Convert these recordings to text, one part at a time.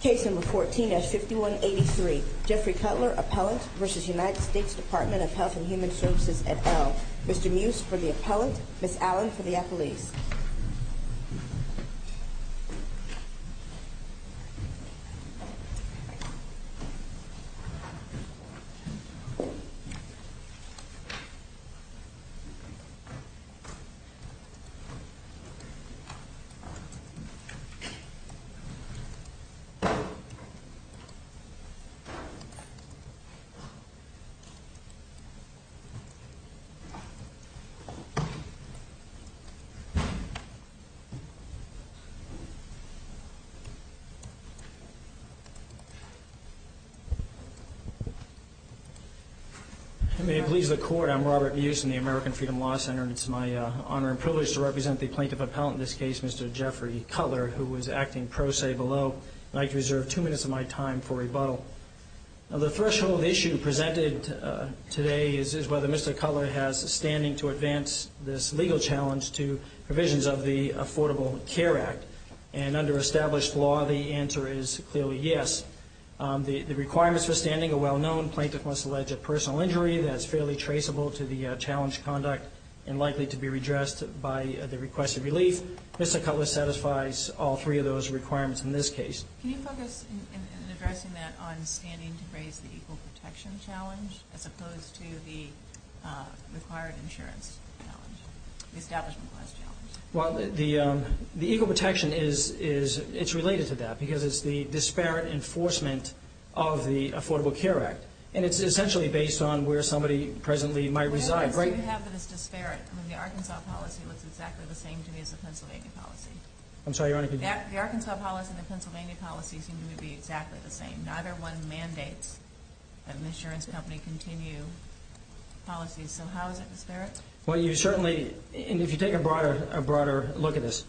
Case No. 14 as 5183, Jeffrey Cutler, Appellant, v. United States Department of Health and Human Services, et al. Mr. Muse for the Appellant, Ms. Allen for the Appellees. May it please the Court, I'm Robert Muse in the American Freedom Law Center and it's my honor and privilege to represent the Plaintiff Appellant in this case, Mr. Jeffrey Cutler. And I'd like to reserve two minutes of my time for rebuttal. The threshold issue presented today is whether Mr. Cutler has standing to advance this legal challenge to provisions of the Affordable Care Act. And under established law, the answer is clearly yes. The requirements for standing are well known. Plaintiff must allege a personal injury that's fairly traceable to the challenge conduct and likely to be redressed by the request of relief. Mr. Cutler satisfies all three of those requirements in this case. Can you focus in addressing that on standing to raise the equal protection challenge as opposed to the required insurance challenge, the establishment class challenge? Well, the equal protection is related to that because it's the disparate enforcement of the Affordable Care Act. And it's essentially based on where somebody presently might reside, right? How much do you have that is disparate? I mean, the Arkansas policy looks exactly the same to me as the Pennsylvania policy. I'm sorry, Your Honor. The Arkansas policy and the Pennsylvania policy seem to be exactly the same. Neither one mandates that an insurance company continue policies. So how is it disparate? Well, you certainly – and if you take a broader look at this,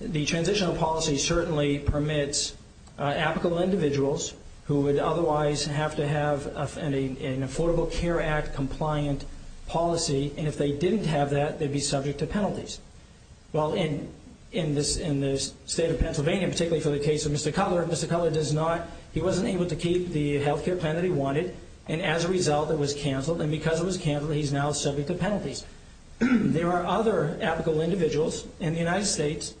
the transitional policy certainly permits applicable individuals who would otherwise have to have an Affordable Care Act-compliant policy. And if they didn't have that, they'd be subject to penalties. Well, in the state of Pennsylvania, particularly for the case of Mr. Cutler, Mr. Cutler does not – he wasn't able to keep the health care plan that he wanted. And as a result, it was canceled. And because it was canceled, he's now subject to penalties. There are other applicable individuals in the United States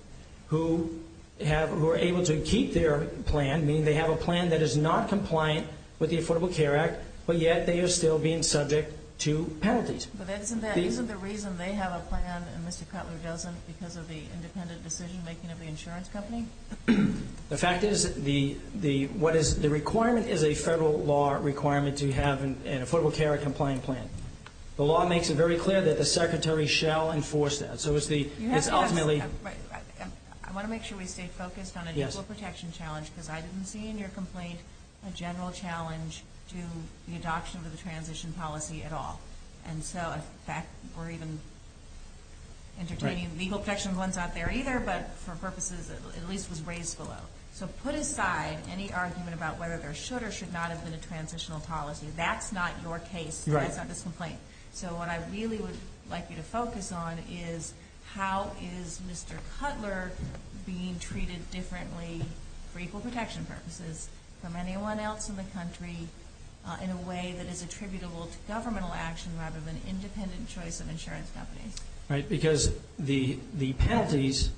who have – who are able to keep their plan, meaning they have a plan that is not compliant with the Affordable Care Act, but yet they are still being subject to penalties. But isn't that – isn't the reason they have a plan and Mr. Cutler doesn't because of the independent decision-making of the insurance company? The fact is the – what is – the requirement is a federal law requirement to have an Affordable Care Act-compliant plan. The law makes it very clear that the Secretary shall enforce that. So it's the – it's ultimately – You have to ask – I want to make sure we stay focused on a legal protection challenge because I didn't see in your complaint a general challenge to the adoption of the transition policy at all. And so, in fact, we're even entertaining legal protection ones out there either, but for purposes – at least was raised below. So put aside any argument about whether there should or should not have been a transitional policy. That's not your case. Right. That's not this complaint. So what I really would like you to focus on is how is Mr. Cutler being treated differently for equal protection purposes from anyone else in the country in a way that is attributable to governmental action rather than independent choice of insurance companies? Right, because the penalties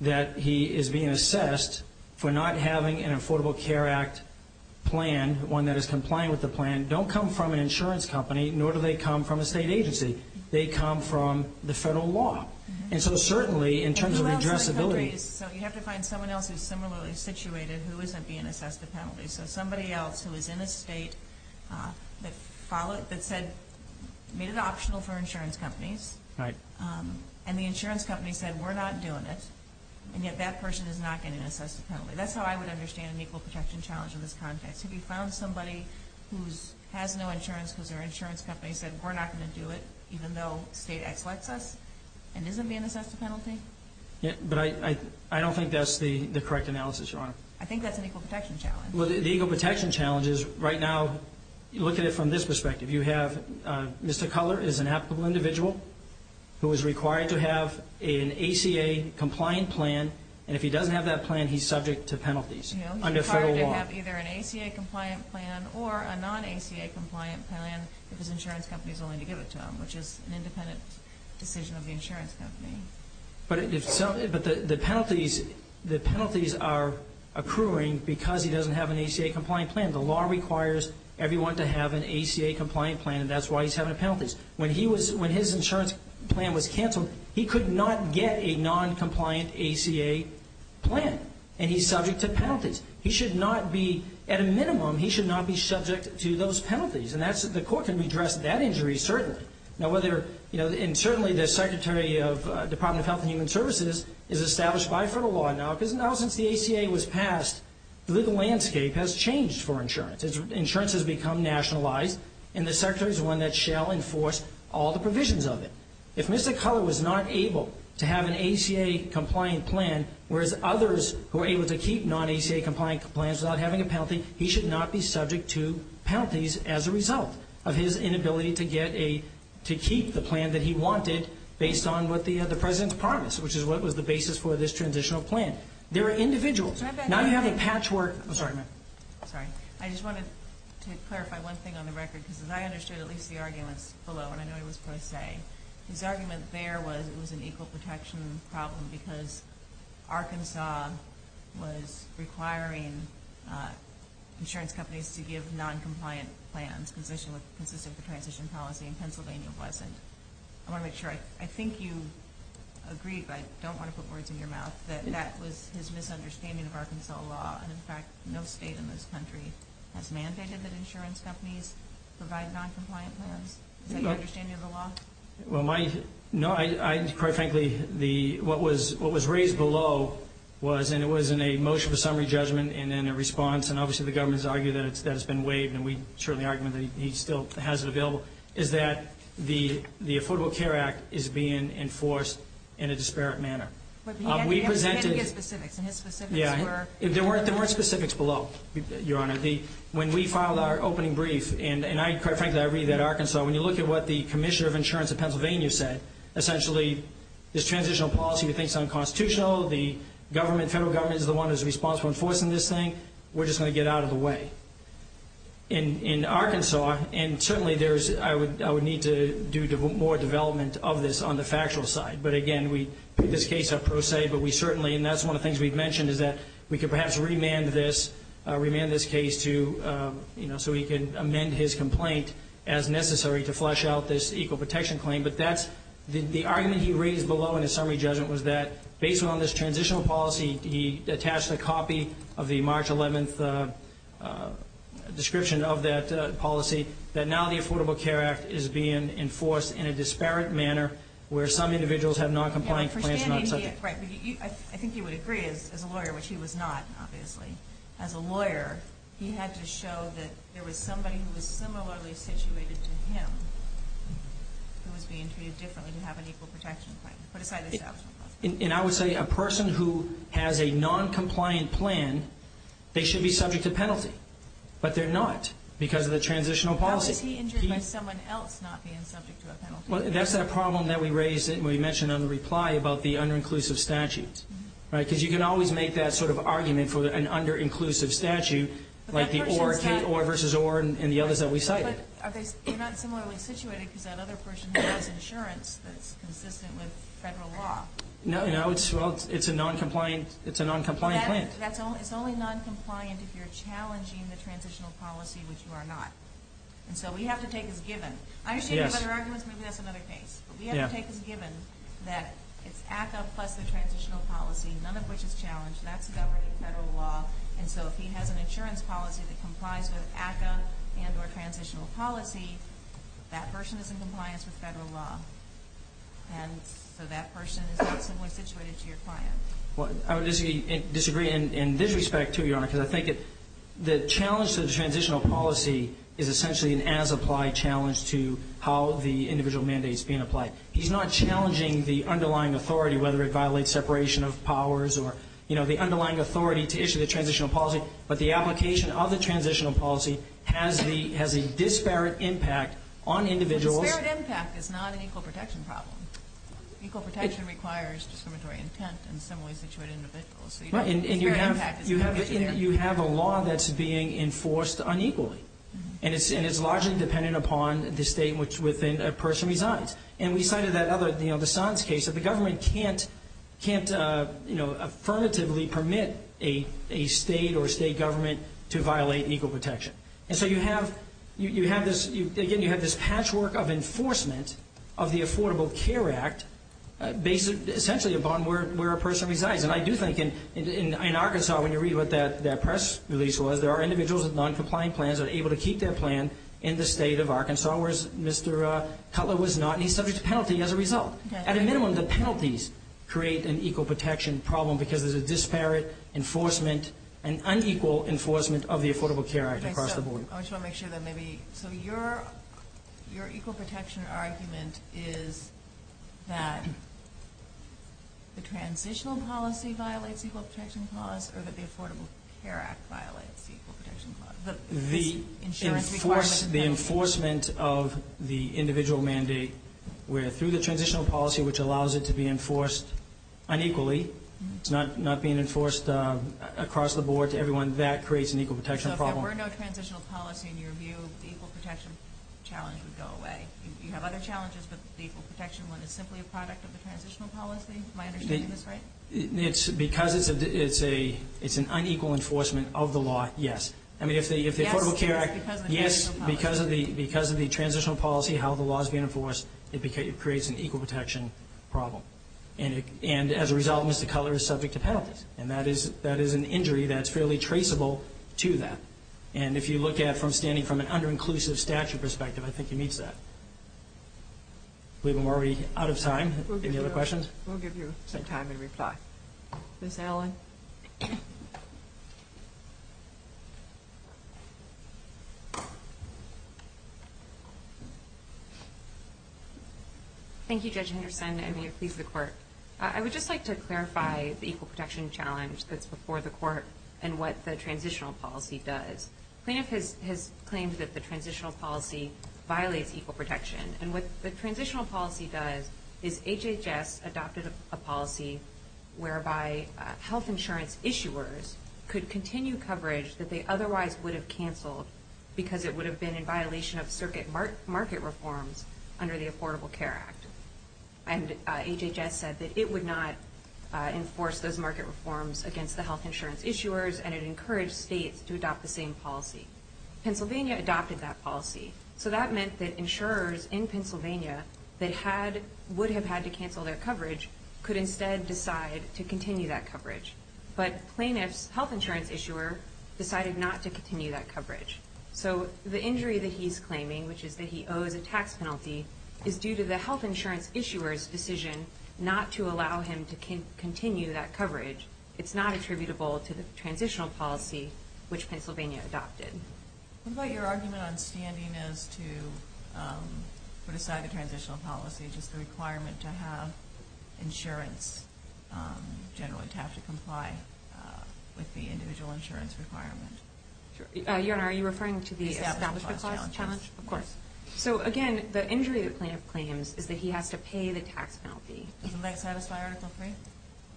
that he is being assessed for not having an Affordable Care Act plan, one that is compliant with the plan, don't come from an insurance company, nor do they come from a state agency. They come from the federal law. And so certainly, in terms of addressability – But who else in the country – so you have to find someone else who is similarly situated who isn't being assessed a penalty. So somebody else who is in a state that followed – that said – made it optional for insurance companies. Right. And the insurance company said, we're not doing it, and yet that person is not getting assessed a penalty. That's how I would understand an equal protection challenge in this context. Have you found somebody who has no insurance because their insurance company said, we're not going to do it even though state exelects us and isn't being assessed a penalty? But I don't think that's the correct analysis, Your Honor. I think that's an equal protection challenge. Well, the equal protection challenge is, right now, look at it from this perspective. You have – Mr. Cutler is an applicable individual who is required to have an ACA-compliant plan, and if he doesn't have that plan, he's subject to penalties under federal law. He's required to have either an ACA-compliant plan or a non-ACA-compliant plan if his insurance company is willing to give it to him, which is an independent decision of the insurance company. But the penalties are accruing because he doesn't have an ACA-compliant plan. The law requires everyone to have an ACA-compliant plan, and that's why he's having penalties. When his insurance plan was canceled, he could not get a non-compliant ACA plan, and he's subject to penalties. He should not be – at a minimum, he should not be subject to those penalties, and that's – the court can redress that injury, certainly. Now, whether – and certainly the Secretary of Department of Health and Human Services is established by federal law. Now, since the ACA was passed, the legal landscape has changed for insurance. Insurance has become nationalized, and the Secretary is the one that shall enforce all the provisions of it. If Mr. Keller was not able to have an ACA-compliant plan, whereas others were able to keep non-ACA-compliant plans without having a penalty, he should not be subject to penalties as a result of his inability to get a – to keep the plan that he wanted based on what the President's promised, which is what was the basis for this transitional plan. There are individuals – now you have a patchwork – I'm sorry, ma'am. I'm sorry. I just wanted to clarify one thing on the record, because as I understood at least the arguments below – and I know it was pro se – his argument there was it was an equal protection problem because Arkansas was requiring insurance companies to give non-compliant plans, consistent with the transition policy, and Pennsylvania wasn't. I want to make sure – I think you agreed, but I don't want to put words in your mouth, that that was his misunderstanding of Arkansas law. In fact, no state in this country has mandated that insurance companies provide non-compliant plans. Is that your understanding of the law? Well, my – no, I – quite frankly, the – what was raised below was – and it was in a motion for summary judgment and then a response, and obviously the government has argued that it's – that it's been waived, and we certainly argue that he still has it available – is that the Affordable Care Act is being enforced in a disparate manner. But he had to give specifics, and his specifics were – There weren't specifics below, Your Honor. When we filed our opening brief – and I – quite frankly, I agree that Arkansas – when you look at what the commissioner of insurance in Pennsylvania said, essentially this transitional policy we think is unconstitutional, the government – federal government is the one who's responsible for enforcing this thing, we're just going to get out of the way. In Arkansas – and certainly there's – I would need to do more development of this on the factual side, but again, we put this case up pro se, but we certainly – we could perhaps remand this – remand this case to – so he can amend his complaint as necessary to flesh out this equal protection claim. But that's – the argument he raised below in his summary judgment was that based on this transitional policy, he attached a copy of the March 11th description of that policy, that now the Affordable Care Act is being enforced in a disparate manner where some individuals have noncompliant complaints. I think you would agree, as a lawyer – which he was not, obviously – as a lawyer, he had to show that there was somebody who was similarly situated to him who was being treated differently to have an equal protection claim. And I would say a person who has a noncompliant plan, they should be subject to penalty, but they're not because of the transitional policy. Now, is he injured by someone else not being subject to a penalty? Well, that's that problem that we raised – that we mentioned on the reply – about the under-inclusive statute, right? Because you can always make that sort of argument for an under-inclusive statute, like the Orr – Kate Orr versus Orr and the others that we cited. But are they – they're not similarly situated because that other person has insurance that's consistent with federal law. No, no, it's – well, it's a noncompliant – it's a noncompliant plan. It's only noncompliant if you're challenging the transitional policy, which you are not. And so we have to take as given. I understand you have other arguments. Maybe that's another case. But we have to take as given that it's ACCA plus the transitional policy, none of which is challenged. That's the governing federal law. And so if he has an insurance policy that complies with ACCA and or transitional policy, that person is in compliance with federal law. And so that person is not similarly situated to your client. Well, I would disagree in this respect, too, Your Honor, because I think the challenge to the transitional policy is essentially an as-applied challenge to how the individual mandate is being applied. He's not challenging the underlying authority, whether it violates separation of powers or, you know, the underlying authority to issue the transitional policy, but the application of the transitional policy has the – has a disparate impact on individuals. But disparate impact is not an equal protection problem. Equal protection requires discriminatory intent and similarly situated individuals. Right, and you have a law that's being enforced unequally, and it's largely dependent upon the state within which a person resides. And we cited that other, you know, the Sons case, that the government can't, you know, affirmatively permit a state or a state government to violate an equal protection. And so you have this – again, you have this patchwork of enforcement of the Affordable Care Act based essentially upon where a person resides. And I do think in Arkansas, when you read what that press release was, there are individuals with noncompliant plans that are able to keep their plan in the state of Arkansas, whereas Mr. Cutler was not, and he's subject to penalty as a result. At a minimum, the penalties create an equal protection problem because there's a disparate enforcement and unequal enforcement of the Affordable Care Act across the board. I just want to make sure that maybe – Your equal protection argument is that the transitional policy violates equal protection clause or that the Affordable Care Act violates equal protection clause? The enforcement of the individual mandate where through the transitional policy, which allows it to be enforced unequally, it's not being enforced across the board to everyone, that creates an equal protection problem. If there were no transitional policy, in your view, the equal protection challenge would go away. You have other challenges, but the equal protection one is simply a product of the transitional policy? Am I understanding this right? Because it's an unequal enforcement of the law, yes. Yes, because of the transitional policy. Yes, because of the transitional policy, how the law is being enforced, it creates an equal protection problem. And that is an injury that's fairly traceable to that. And if you look at it from standing from an under-inclusive statute perspective, I think he meets that. We're already out of time. Any other questions? We'll give you some time to reply. Ms. Allen? Thank you, Judge Henderson, and may it please the Court. I would just like to clarify the equal protection challenge that's before the Court and what the transitional policy does. Cleanup has claimed that the transitional policy violates equal protection, and what the transitional policy does is HHS adopted a policy whereby health insurance issuers could continue coverage that they otherwise would have canceled because it would have been in violation of circuit market reforms under the Affordable Care Act. And HHS said that it would not enforce those market reforms against the health insurance issuers, and it encouraged states to adopt the same policy. Pennsylvania adopted that policy. So that meant that insurers in Pennsylvania that would have had to cancel their coverage could instead decide to continue that coverage. But plaintiff's health insurance issuer decided not to continue that coverage. So the injury that he's claiming, which is that he owes a tax penalty, is due to the health insurance issuer's decision not to allow him to continue that coverage. It's not attributable to the transitional policy which Pennsylvania adopted. What about your argument on standing as to put aside the transitional policy, just the requirement to have insurance generally to have to comply with the individual insurance requirement? Your Honor, are you referring to the establishment clause challenge? Of course. So, again, the injury the plaintiff claims is that he has to pay the tax penalty. Doesn't that satisfy Article 3?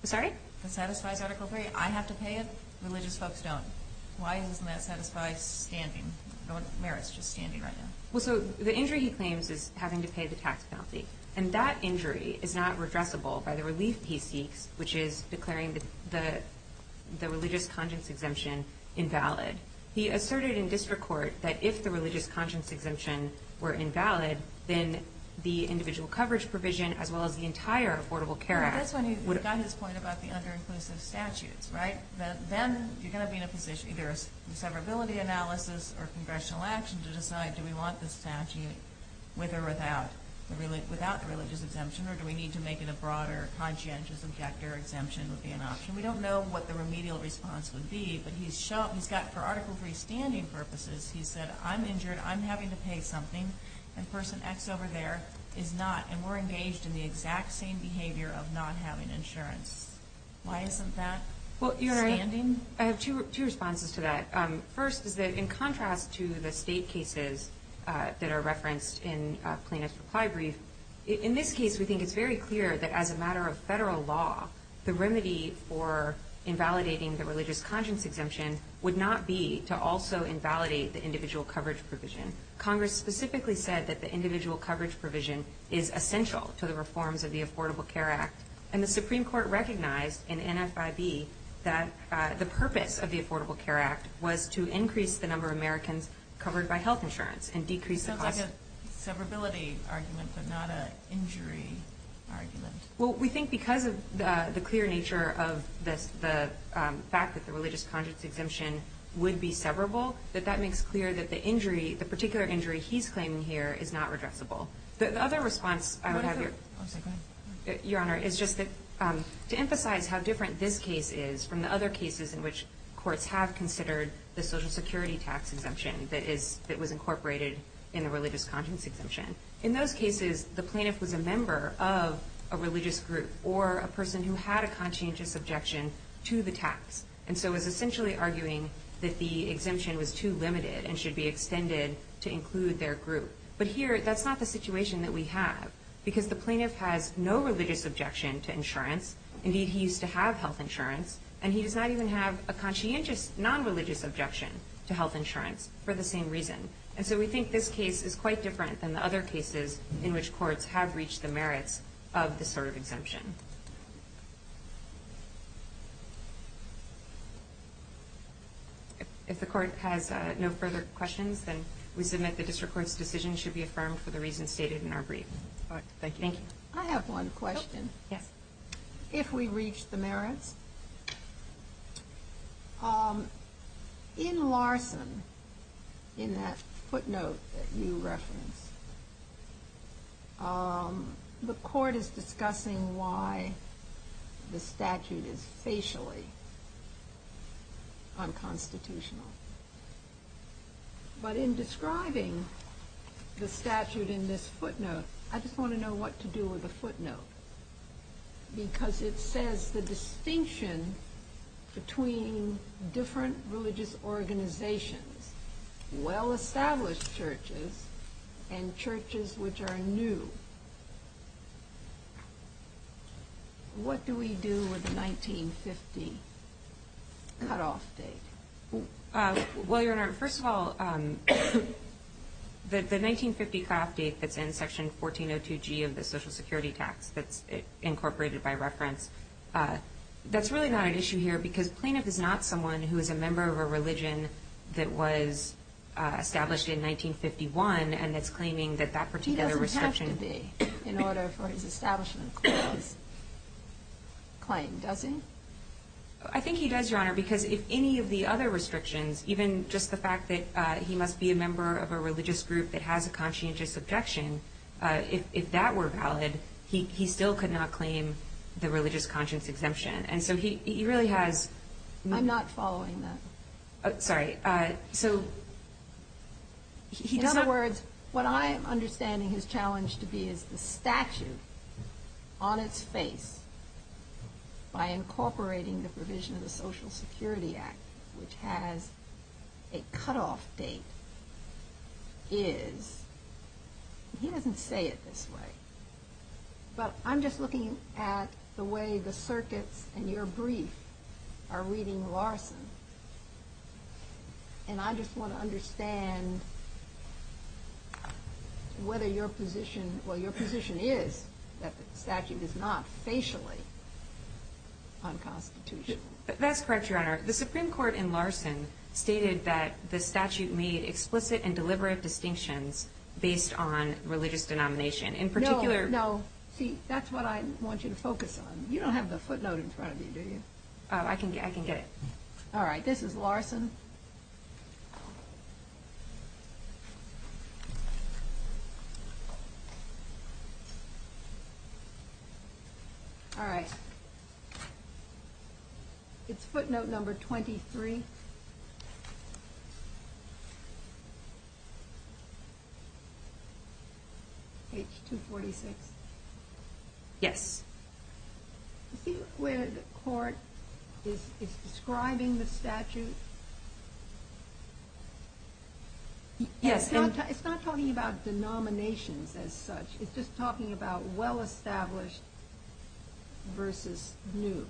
Sorry? That satisfies Article 3? I have to pay it? Religious folks don't. Why doesn't that satisfy standing? No one merits just standing right now. Well, so the injury he claims is having to pay the tax penalty, and that injury is not redressable by the relief he seeks, which is declaring the religious conscience exemption invalid. He asserted in district court that if the religious conscience exemption were invalid, then the individual coverage provision, as well as the entire Affordable Care Act. That's when he got his point about the under-inclusive statutes, right? Then you're going to be in a position, either a severability analysis or congressional action, to decide do we want the statute with or without the religious exemption, or do we need to make it a broader conscientious objector exemption would be an option. We don't know what the remedial response would be, but he's got for Article 3 standing purposes, he said, I'm injured, I'm having to pay something, and person X over there is not, and we're engaged in the exact same behavior of not having insurance. Why isn't that standing? Well, I have two responses to that. First is that in contrast to the state cases that are referenced in plaintiff's reply brief, in this case we think it's very clear that as a matter of federal law, the remedy for invalidating the religious conscience exemption would not be to also invalidate the individual coverage provision. Congress specifically said that the individual coverage provision is essential to the reforms of the Affordable Care Act, and the Supreme Court recognized in NFIB that the purpose of the Affordable Care Act was to increase the number of Americans covered by health insurance and decrease the cost. It's a severability argument, but not an injury argument. Well, we think because of the clear nature of the fact that the religious conscience exemption would be severable, that that makes clear that the particular injury he's claiming here is not redressable. The other response I would have, Your Honor, is just to emphasize how different this case is from the other cases in which courts have considered the Social Security tax exemption that was incorporated in the religious conscience exemption. In those cases, the plaintiff was a member of a religious group or a person who had a conscientious objection to the tax, and so is essentially arguing that the exemption was too limited and should be extended to include their group. But here, that's not the situation that we have, because the plaintiff has no religious objection to insurance. Indeed, he used to have health insurance, and he does not even have a conscientious non-religious objection to health insurance for the same reason. And so we think this case is quite different than the other cases in which courts have reached the merits of this sort of exemption. If the Court has no further questions, then we submit the District Court's decision should be affirmed for the reasons stated in our brief. Thank you. I have one question. If we reach the merits. In Larson, in that footnote that you referenced, the Court is discussing why the statute is facially unconstitutional. But in describing the statute in this footnote, I just want to know what to do with the footnote. Because it says the distinction between different religious organizations, well-established churches, and churches which are new. What do we do with the 1950 cutoff date? Well, Your Honor, first of all, the 1950 cutoff date that's in Section 1402G of the Social Security Tax, that's incorporated by reference, that's really not an issue here because Plaintiff is not someone who is a member of a religion that was established in 1951, and that's claiming that that particular restriction He doesn't have to be in order for his establishment clause claim, does he? I think he does, Your Honor, because if any of the other restrictions, even just the fact that he must be a member of a religious group that has a conscientious objection, if that were valid, he still could not claim the religious conscience exemption. And so he really has... I'm not following that. Sorry. So... In other words, what I am understanding his challenge to be is the statute, on its face, by incorporating the provision of the Social Security Act, which has a cutoff date, is... He doesn't say it this way, but I'm just looking at the way the circuits in your brief are reading Larson, and I just want to understand whether your position, well, your position is that the statute is not facially unconstitutional. That's correct, Your Honor. The Supreme Court in Larson stated that the statute made explicit and deliberate distinctions based on religious denomination. In particular... No, no. See, that's what I want you to focus on. You don't have the footnote in front of you, do you? I can get it. All right. This is Larson. All right. It's footnote number 23. Page 246. Yes. Do you see where the court is describing the statute? Yes. It's not talking about denominations as such. It's just talking about well-established versus new.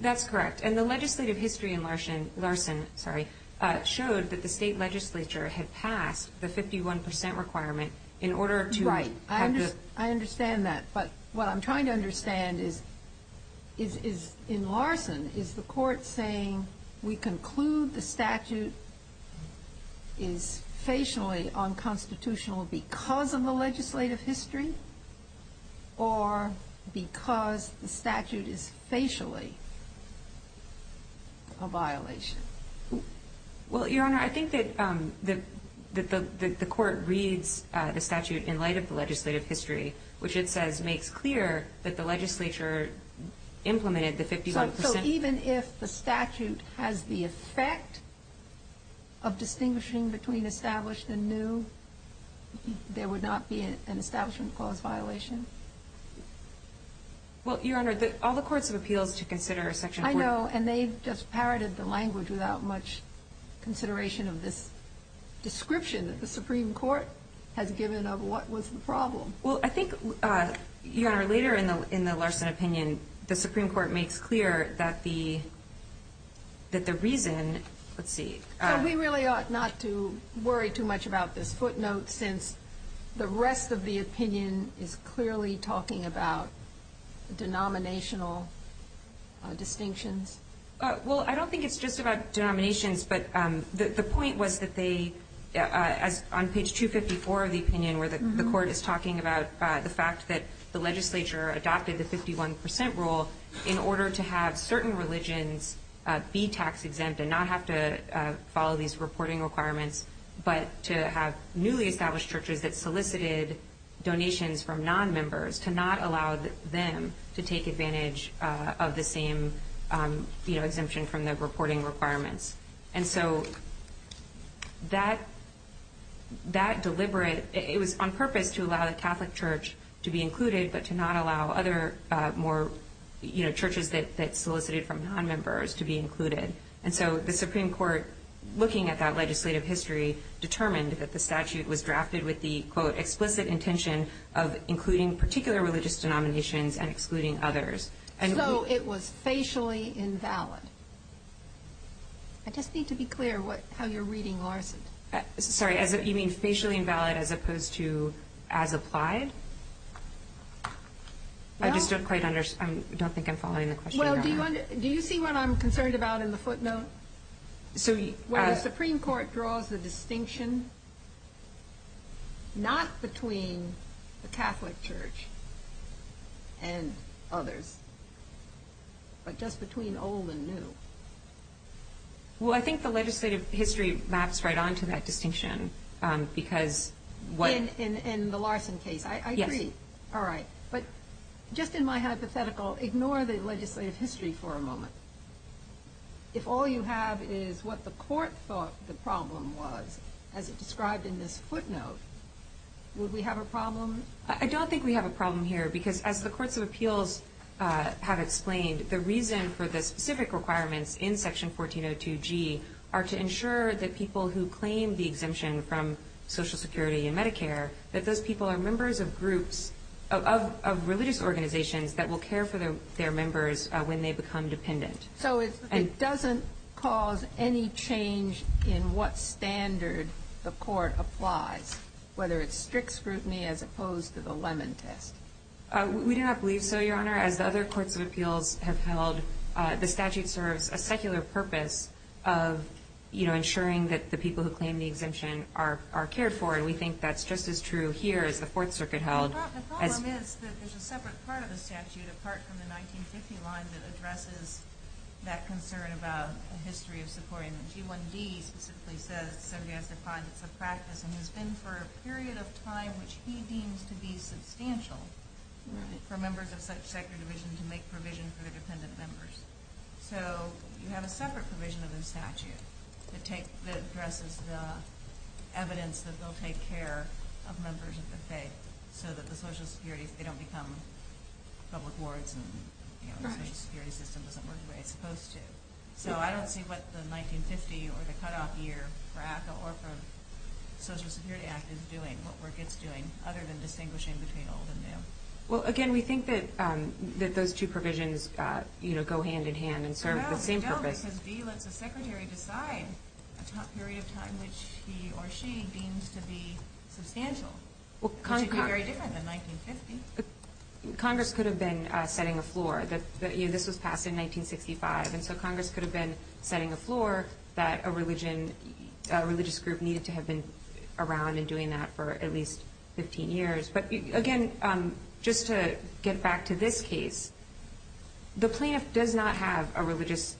That's correct. And the legislative history in Larson showed that the state legislature had passed the 51 percent requirement in order to... Right. I understand that. But what I'm trying to understand is, in Larson, is the court saying we conclude the statute is facially unconstitutional because of the legislative history or because the statute is facially a violation? Well, Your Honor, I think that the court reads the statute in light of the legislative history, which it says makes clear that the legislature implemented the 51 percent... So even if the statute has the effect of distinguishing between established and new, there would not be an establishment clause violation? Well, Your Honor, all the courts of appeals should consider a section... I know, and they just parroted the language without much consideration of this description that the Supreme Court has given of what was the problem. Well, I think, Your Honor, later in the Larson opinion, the Supreme Court makes clear that the reason... Let's see. So we really ought not to worry too much about this footnote since the rest of the opinion is clearly talking about denominational distinctions? Well, I don't think it's just about denominations, but the point was that they, on page 254 of the opinion where the court is talking about the fact that the legislature adopted the 51 percent rule in order to have certain religions be tax-exempt and not have to follow these reporting requirements, but to have newly established churches that solicited donations from nonmembers to not allow them to take advantage of the same exemption from the reporting requirements. And so that deliberate... It was on purpose to allow the Catholic Church to be included, but to not allow other more churches that solicited from nonmembers to be included. And so the Supreme Court, looking at that legislative history, determined that the statute was drafted with the, quote, explicit intention of including particular religious denominations and excluding others. So it was facially invalid. I just need to be clear how you're reading, Larson. Sorry, you mean facially invalid as opposed to as applied? I just don't quite understand. I don't think I'm following the question. Well, do you see what I'm concerned about in the footnote? Where the Supreme Court draws the distinction not between the Catholic Church and others, but just between old and new. Well, I think the legislative history maps right on to that distinction because what... In the Larson case. I agree. All right. But just in my hypothetical, ignore the legislative history for a moment. If all you have is what the court thought the problem was, as it's described in this footnote, would we have a problem? I don't think we have a problem here because, as the courts of appeals have explained, the reason for the specific requirements in Section 1402G are to ensure that people who claim the exemption from Social Security and Medicare, that those people are members of groups of religious organizations that will care for their members when they become dependent. So it doesn't cause any change in what standard the court applies, whether it's strict scrutiny as opposed to the lemon test? We do not believe so, Your Honor. As the other courts of appeals have held, the statute serves a secular purpose of ensuring that the people who claim the exemption are cared for, and we think that's just as true here as the Fourth Circuit held. The problem is that there's a separate part of the statute, apart from the 1950 line, that addresses that concern about a history of supporting them. G1D specifically says somebody has to find it's a practice and has been for a period of time which he deems to be substantial for members of such secular division to make provision for their dependent members. So you have a separate provision of the statute that addresses the evidence that they'll take care of members of the faith so that the Social Security, if they don't become public wards and the Social Security system doesn't work the way it's supposed to. So I don't see what the 1950 or the cutoff year for ACCA or for the Social Security Act is doing, what work it's doing, other than distinguishing between old and new. Well, again, we think that those two provisions go hand in hand and serve the same purpose. G1B says B lets a secretary decide a period of time which he or she deems to be substantial, which would be very different than 1950. Congress could have been setting a floor. This was passed in 1965, and so Congress could have been setting a floor that a religious group needed to have been around and doing that for at least 15 years. But, again, just to get back to this case, the plaintiff does not have a religious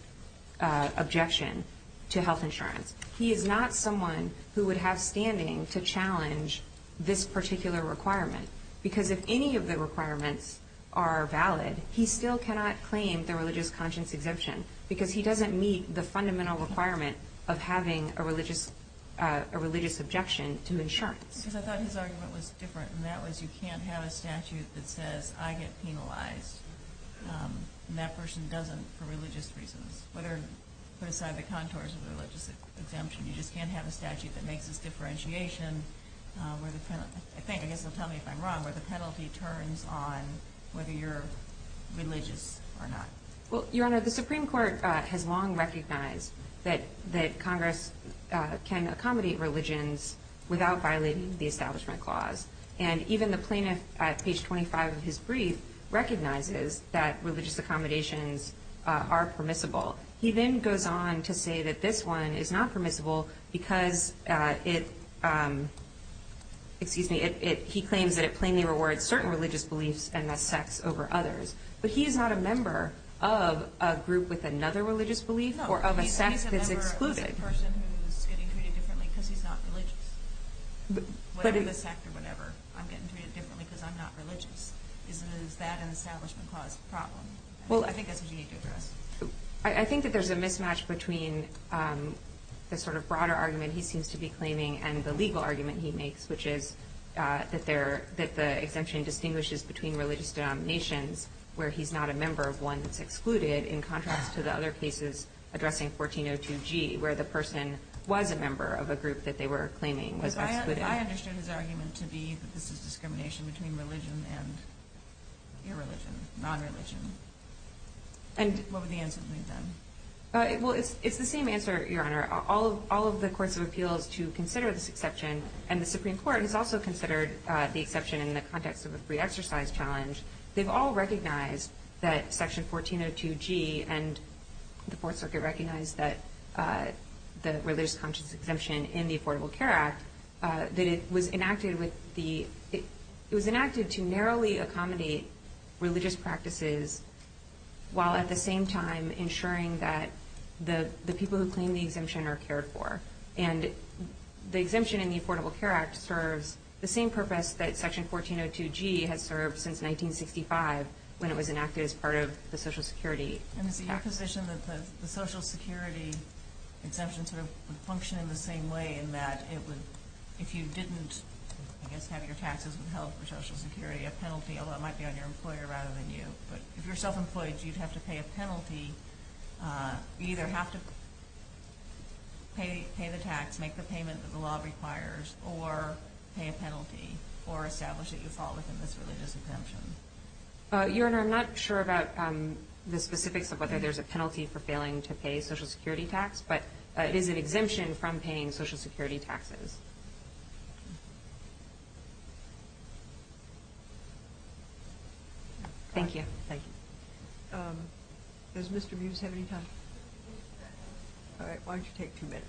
objection to health insurance. He is not someone who would have standing to challenge this particular requirement because if any of the requirements are valid, he still cannot claim the religious conscience exemption because he doesn't meet the fundamental requirement of having a religious objection to insurance. Because I thought his argument was different, and that was you can't have a statute that says, I get penalized, and that person doesn't for religious reasons, whether you put aside the contours of the religious exemption. You just can't have a statute that makes this differentiation. I think, I guess they'll tell me if I'm wrong, where the penalty turns on whether you're religious or not. Well, Your Honor, the Supreme Court has long recognized that Congress can accommodate religions without violating the Establishment Clause. And even the plaintiff, at page 25 of his brief, recognizes that religious accommodations are permissible. He then goes on to say that this one is not permissible because it, excuse me, he claims that it plainly rewards certain religious beliefs and thus sects over others. But he is not a member of a group with another religious belief or of a sect that's excluded. No, he's a member of a person who's getting treated differently because he's not religious. Whatever the sect or whatever, I'm getting treated differently because I'm not religious. Is that an Establishment Clause problem? Well, I think that's what you need to address. I think that there's a mismatch between the sort of broader argument he seems to be claiming and the legal argument he makes, which is that the exemption distinguishes between religious denominations where he's not a member of one that's excluded in contrast to the other cases addressing 1402G, where the person was a member of a group that they were claiming was excluded. If I understood his argument to be that this is discrimination between religion and irreligion, nonreligion, what would the answer be then? Well, it's the same answer, Your Honor. All of the courts of appeals to consider this exception, and the Supreme Court has also considered the exception in the context of a free exercise challenge, they've all recognized that Section 1402G and the Fourth Circuit recognize that the Religious Conscience Exemption in the Affordable Care Act, that it was enacted to narrowly accommodate religious practices while at the same time ensuring that the people who claim the exemption are cared for. And the exemption in the Affordable Care Act serves the same purpose that Section 1402G has served since 1965 when it was enacted as part of the Social Security Act. And is it your position that the Social Security exemption sort of would function in the same way in that it would, if you didn't, I guess, have your taxes withheld for Social Security, a penalty, although it might be on your employer rather than you. But if you're self-employed, you'd have to pay a penalty. You'd either have to pay the tax, make the payment that the law requires, or pay a penalty, or establish that you fall within this religious exemption. Your Honor, I'm not sure about the specifics of whether there's a penalty for failing to pay Social Security tax, but it is an exemption from paying Social Security taxes. Thank you. Does Mr. Buse have any time? All right, why don't you take two minutes.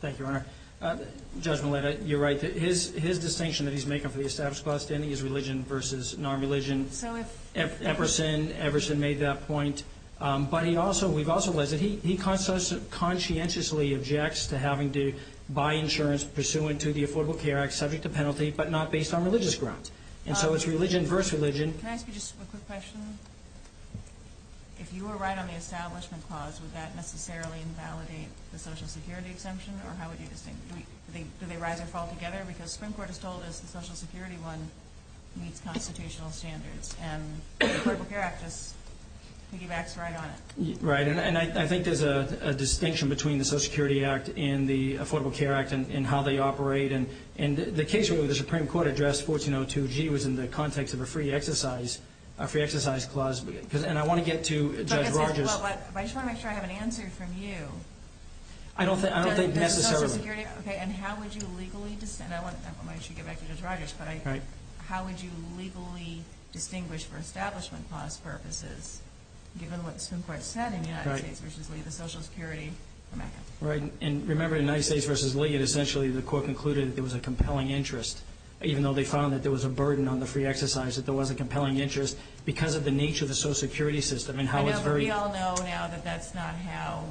Thank you, Your Honor. Judge Meletta, you're right. His distinction that he's making for the established class standing is religion versus non-religion. So if... Everson made that point. But we've also learned that he conscientiously objects to having to buy insurance pursuant to the Affordable Care Act subject to penalty but not based on religious grounds. And so it's religion versus religion. Can I ask you just a quick question? If you were right on the establishment clause, would that necessarily invalidate the Social Security exemption, or how would you distinguish? Do they rise or fall together? Because the Supreme Court has told us the Social Security one meets constitutional standards, and the Affordable Care Act just piggybacks right on it. Right, and I think there's a distinction between the Social Security Act and the Affordable Care Act and how they operate. And the case where the Supreme Court addressed 1402G was in the context of a free exercise clause. And I want to get to Judge Rogers. But I just want to make sure I have an answer from you. I don't think necessarily. Okay, and how would you legally distinguish? And I want to get back to Judge Rogers. How would you legally distinguish for establishment class purposes, given what the Supreme Court said in the United States v. Lee, the Social Security amendment? Right, and remember in the United States v. Lee, essentially the court concluded that there was a compelling interest, even though they found that there was a burden on the free exercise, that there was a compelling interest because of the nature of the Social Security system. I know, but we all know now that that's not how,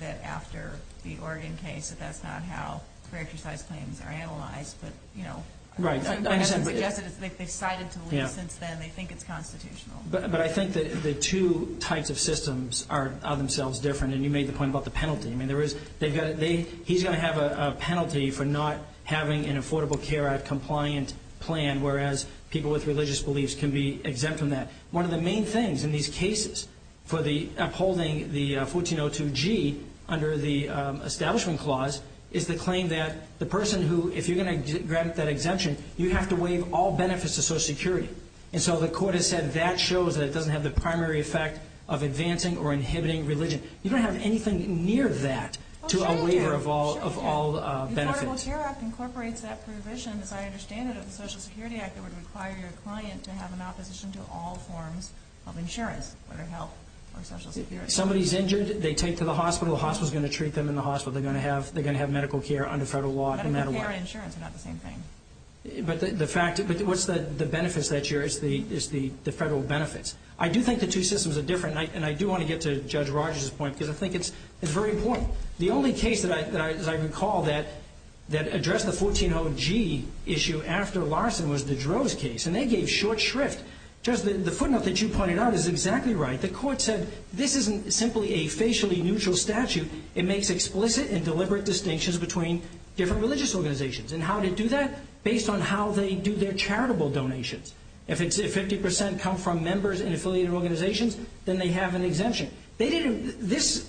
that after the Oregon case, that that's not how free exercise claims are analyzed. But, you know, the Supreme Court hasn't suggested it. They've cited it to Lee since then. They think it's constitutional. But I think that the two types of systems are themselves different. And you made the point about the penalty. I mean, he's going to have a penalty for not having an Affordable Care Act compliant plan, whereas people with religious beliefs can be exempt from that. One of the main things in these cases for upholding the 1402G under the Establishment Clause is the claim that the person who, if you're going to grant that exemption, you have to waive all benefits to Social Security. And so the court has said that shows that it doesn't have the primary effect of advancing or inhibiting religion. You don't have anything near that to a waiver of all benefits. Affordable Care Act incorporates that provision, as I understand it, of the Social Security Act that would require your client to have an opposition to all forms of insurance, whether health or Social Security. If somebody's injured, they take to the hospital. The hospital's going to treat them in the hospital. They're going to have medical care under federal law no matter what. Medical care and insurance are not the same thing. But the fact, what's the benefits that you're, it's the federal benefits. I do think the two systems are different. And I do want to get to Judge Rogers' point because I think it's very important. The only case, as I recall, that addressed the 1402G issue after Larson was the Droz case. And they gave short shrift. Judge, the footnote that you pointed out is exactly right. The court said this isn't simply a facially neutral statute. It makes explicit and deliberate distinctions between different religious organizations. And how did it do that? Based on how they do their charitable donations. If 50% come from members in affiliated organizations, then they have an exemption. They didn't, this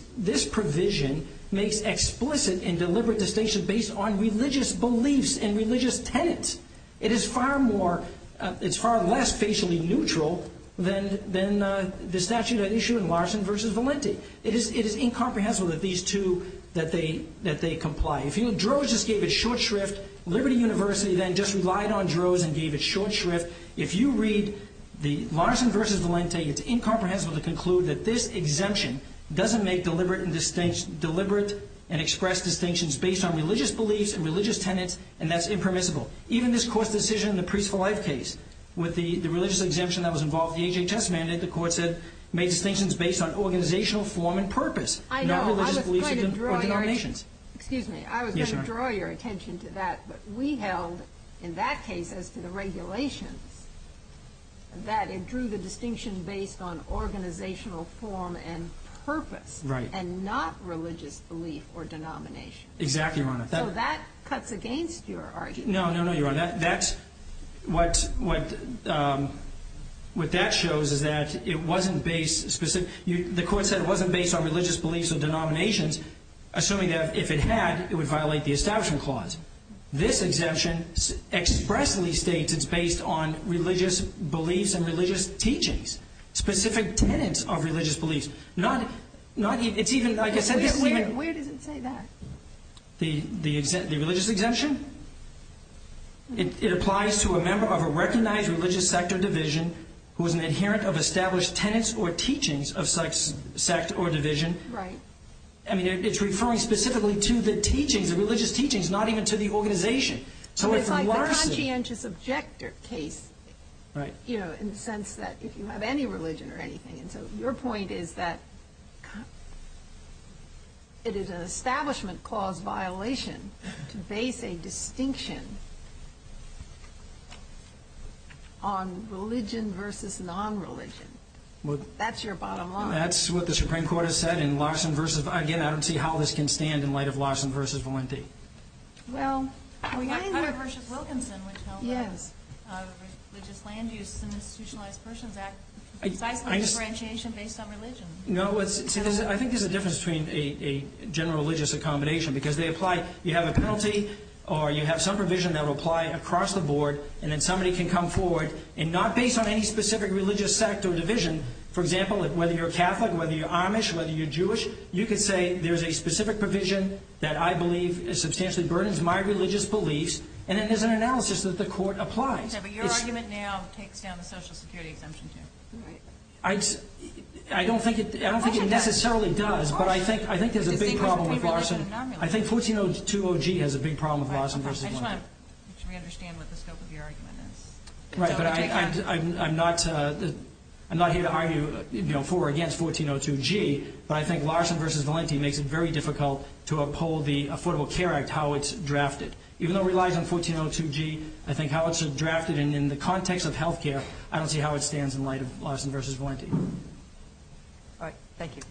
provision makes explicit and deliberate distinctions based on religious beliefs and religious tenets. It is far more, it's far less facially neutral than the statute at issue in Larson v. Valenti. It is incomprehensible that these two, that they comply. If Droz just gave it short shrift, Liberty University then just relied on Droz and gave it short shrift, if you read the Larson v. Valenti, it's incomprehensible to conclude that this exemption doesn't make deliberate and express distinctions based on religious beliefs and religious tenets, and that's impermissible. Even this Court's decision in the Priests for Life case with the religious exemption that was involved with the HHS mandate, the Court said made distinctions based on organizational form and purpose, not religious beliefs or donations. Excuse me, I was going to draw your attention to that. But we held in that case as to the regulations that it drew the distinction based on organizational form and purpose, and not religious belief or denomination. Exactly, Your Honor. So that cuts against your argument. No, no, no, Your Honor. That's, what that shows is that it wasn't based, the Court said it wasn't based on religious beliefs or denominations, assuming that if it had, it would violate the Establishment Clause. This exemption expressly states it's based on religious beliefs and religious teachings, specific tenets of religious beliefs. Not even, it's even, like I said, it's even... Where does it say that? The religious exemption? It applies to a member of a recognized religious sect or division who is an adherent of established tenets or teachings of such sect or division. Right. I mean, it's referring specifically to the teachings, the religious teachings, not even to the organization. So it's like the conscientious objector case. Right. You know, in the sense that if you have any religion or anything, and so your point is that it is an Establishment Clause violation to base a distinction on religion versus non-religion. That's your bottom line. That's what the Supreme Court has said in Larson versus, again, I don't see how this can stand in light of Larson versus Valenti. Well, you either... Under Bishop Wilkinson, which held that the Religious Land Use and Institutionalized Persons Act precisely differentiation based on religion. No, I think there's a difference between a general religious accommodation because they apply, you have a penalty or you have some provision that will apply across the board and then somebody can come forward and not based on any specific religious sect or division, which you could say there's a specific provision that I believe substantially burdens my religious beliefs, and then there's an analysis that the court applies. Okay, but your argument now takes down the Social Security Exemption, too. I don't think it necessarily does, but I think there's a big problem with Larson. I think 1402G has a big problem with Larson versus Valenti. I just want to make sure we understand what the scope of your argument is. Right, but I'm not here to argue for or against 1402G, but I think Larson versus Valenti makes it very difficult to uphold the Affordable Care Act, how it's drafted. Even though it relies on 1402G, I think how it's drafted in the context of health care, I don't see how it stands in light of Larson versus Valenti. All right, thank you.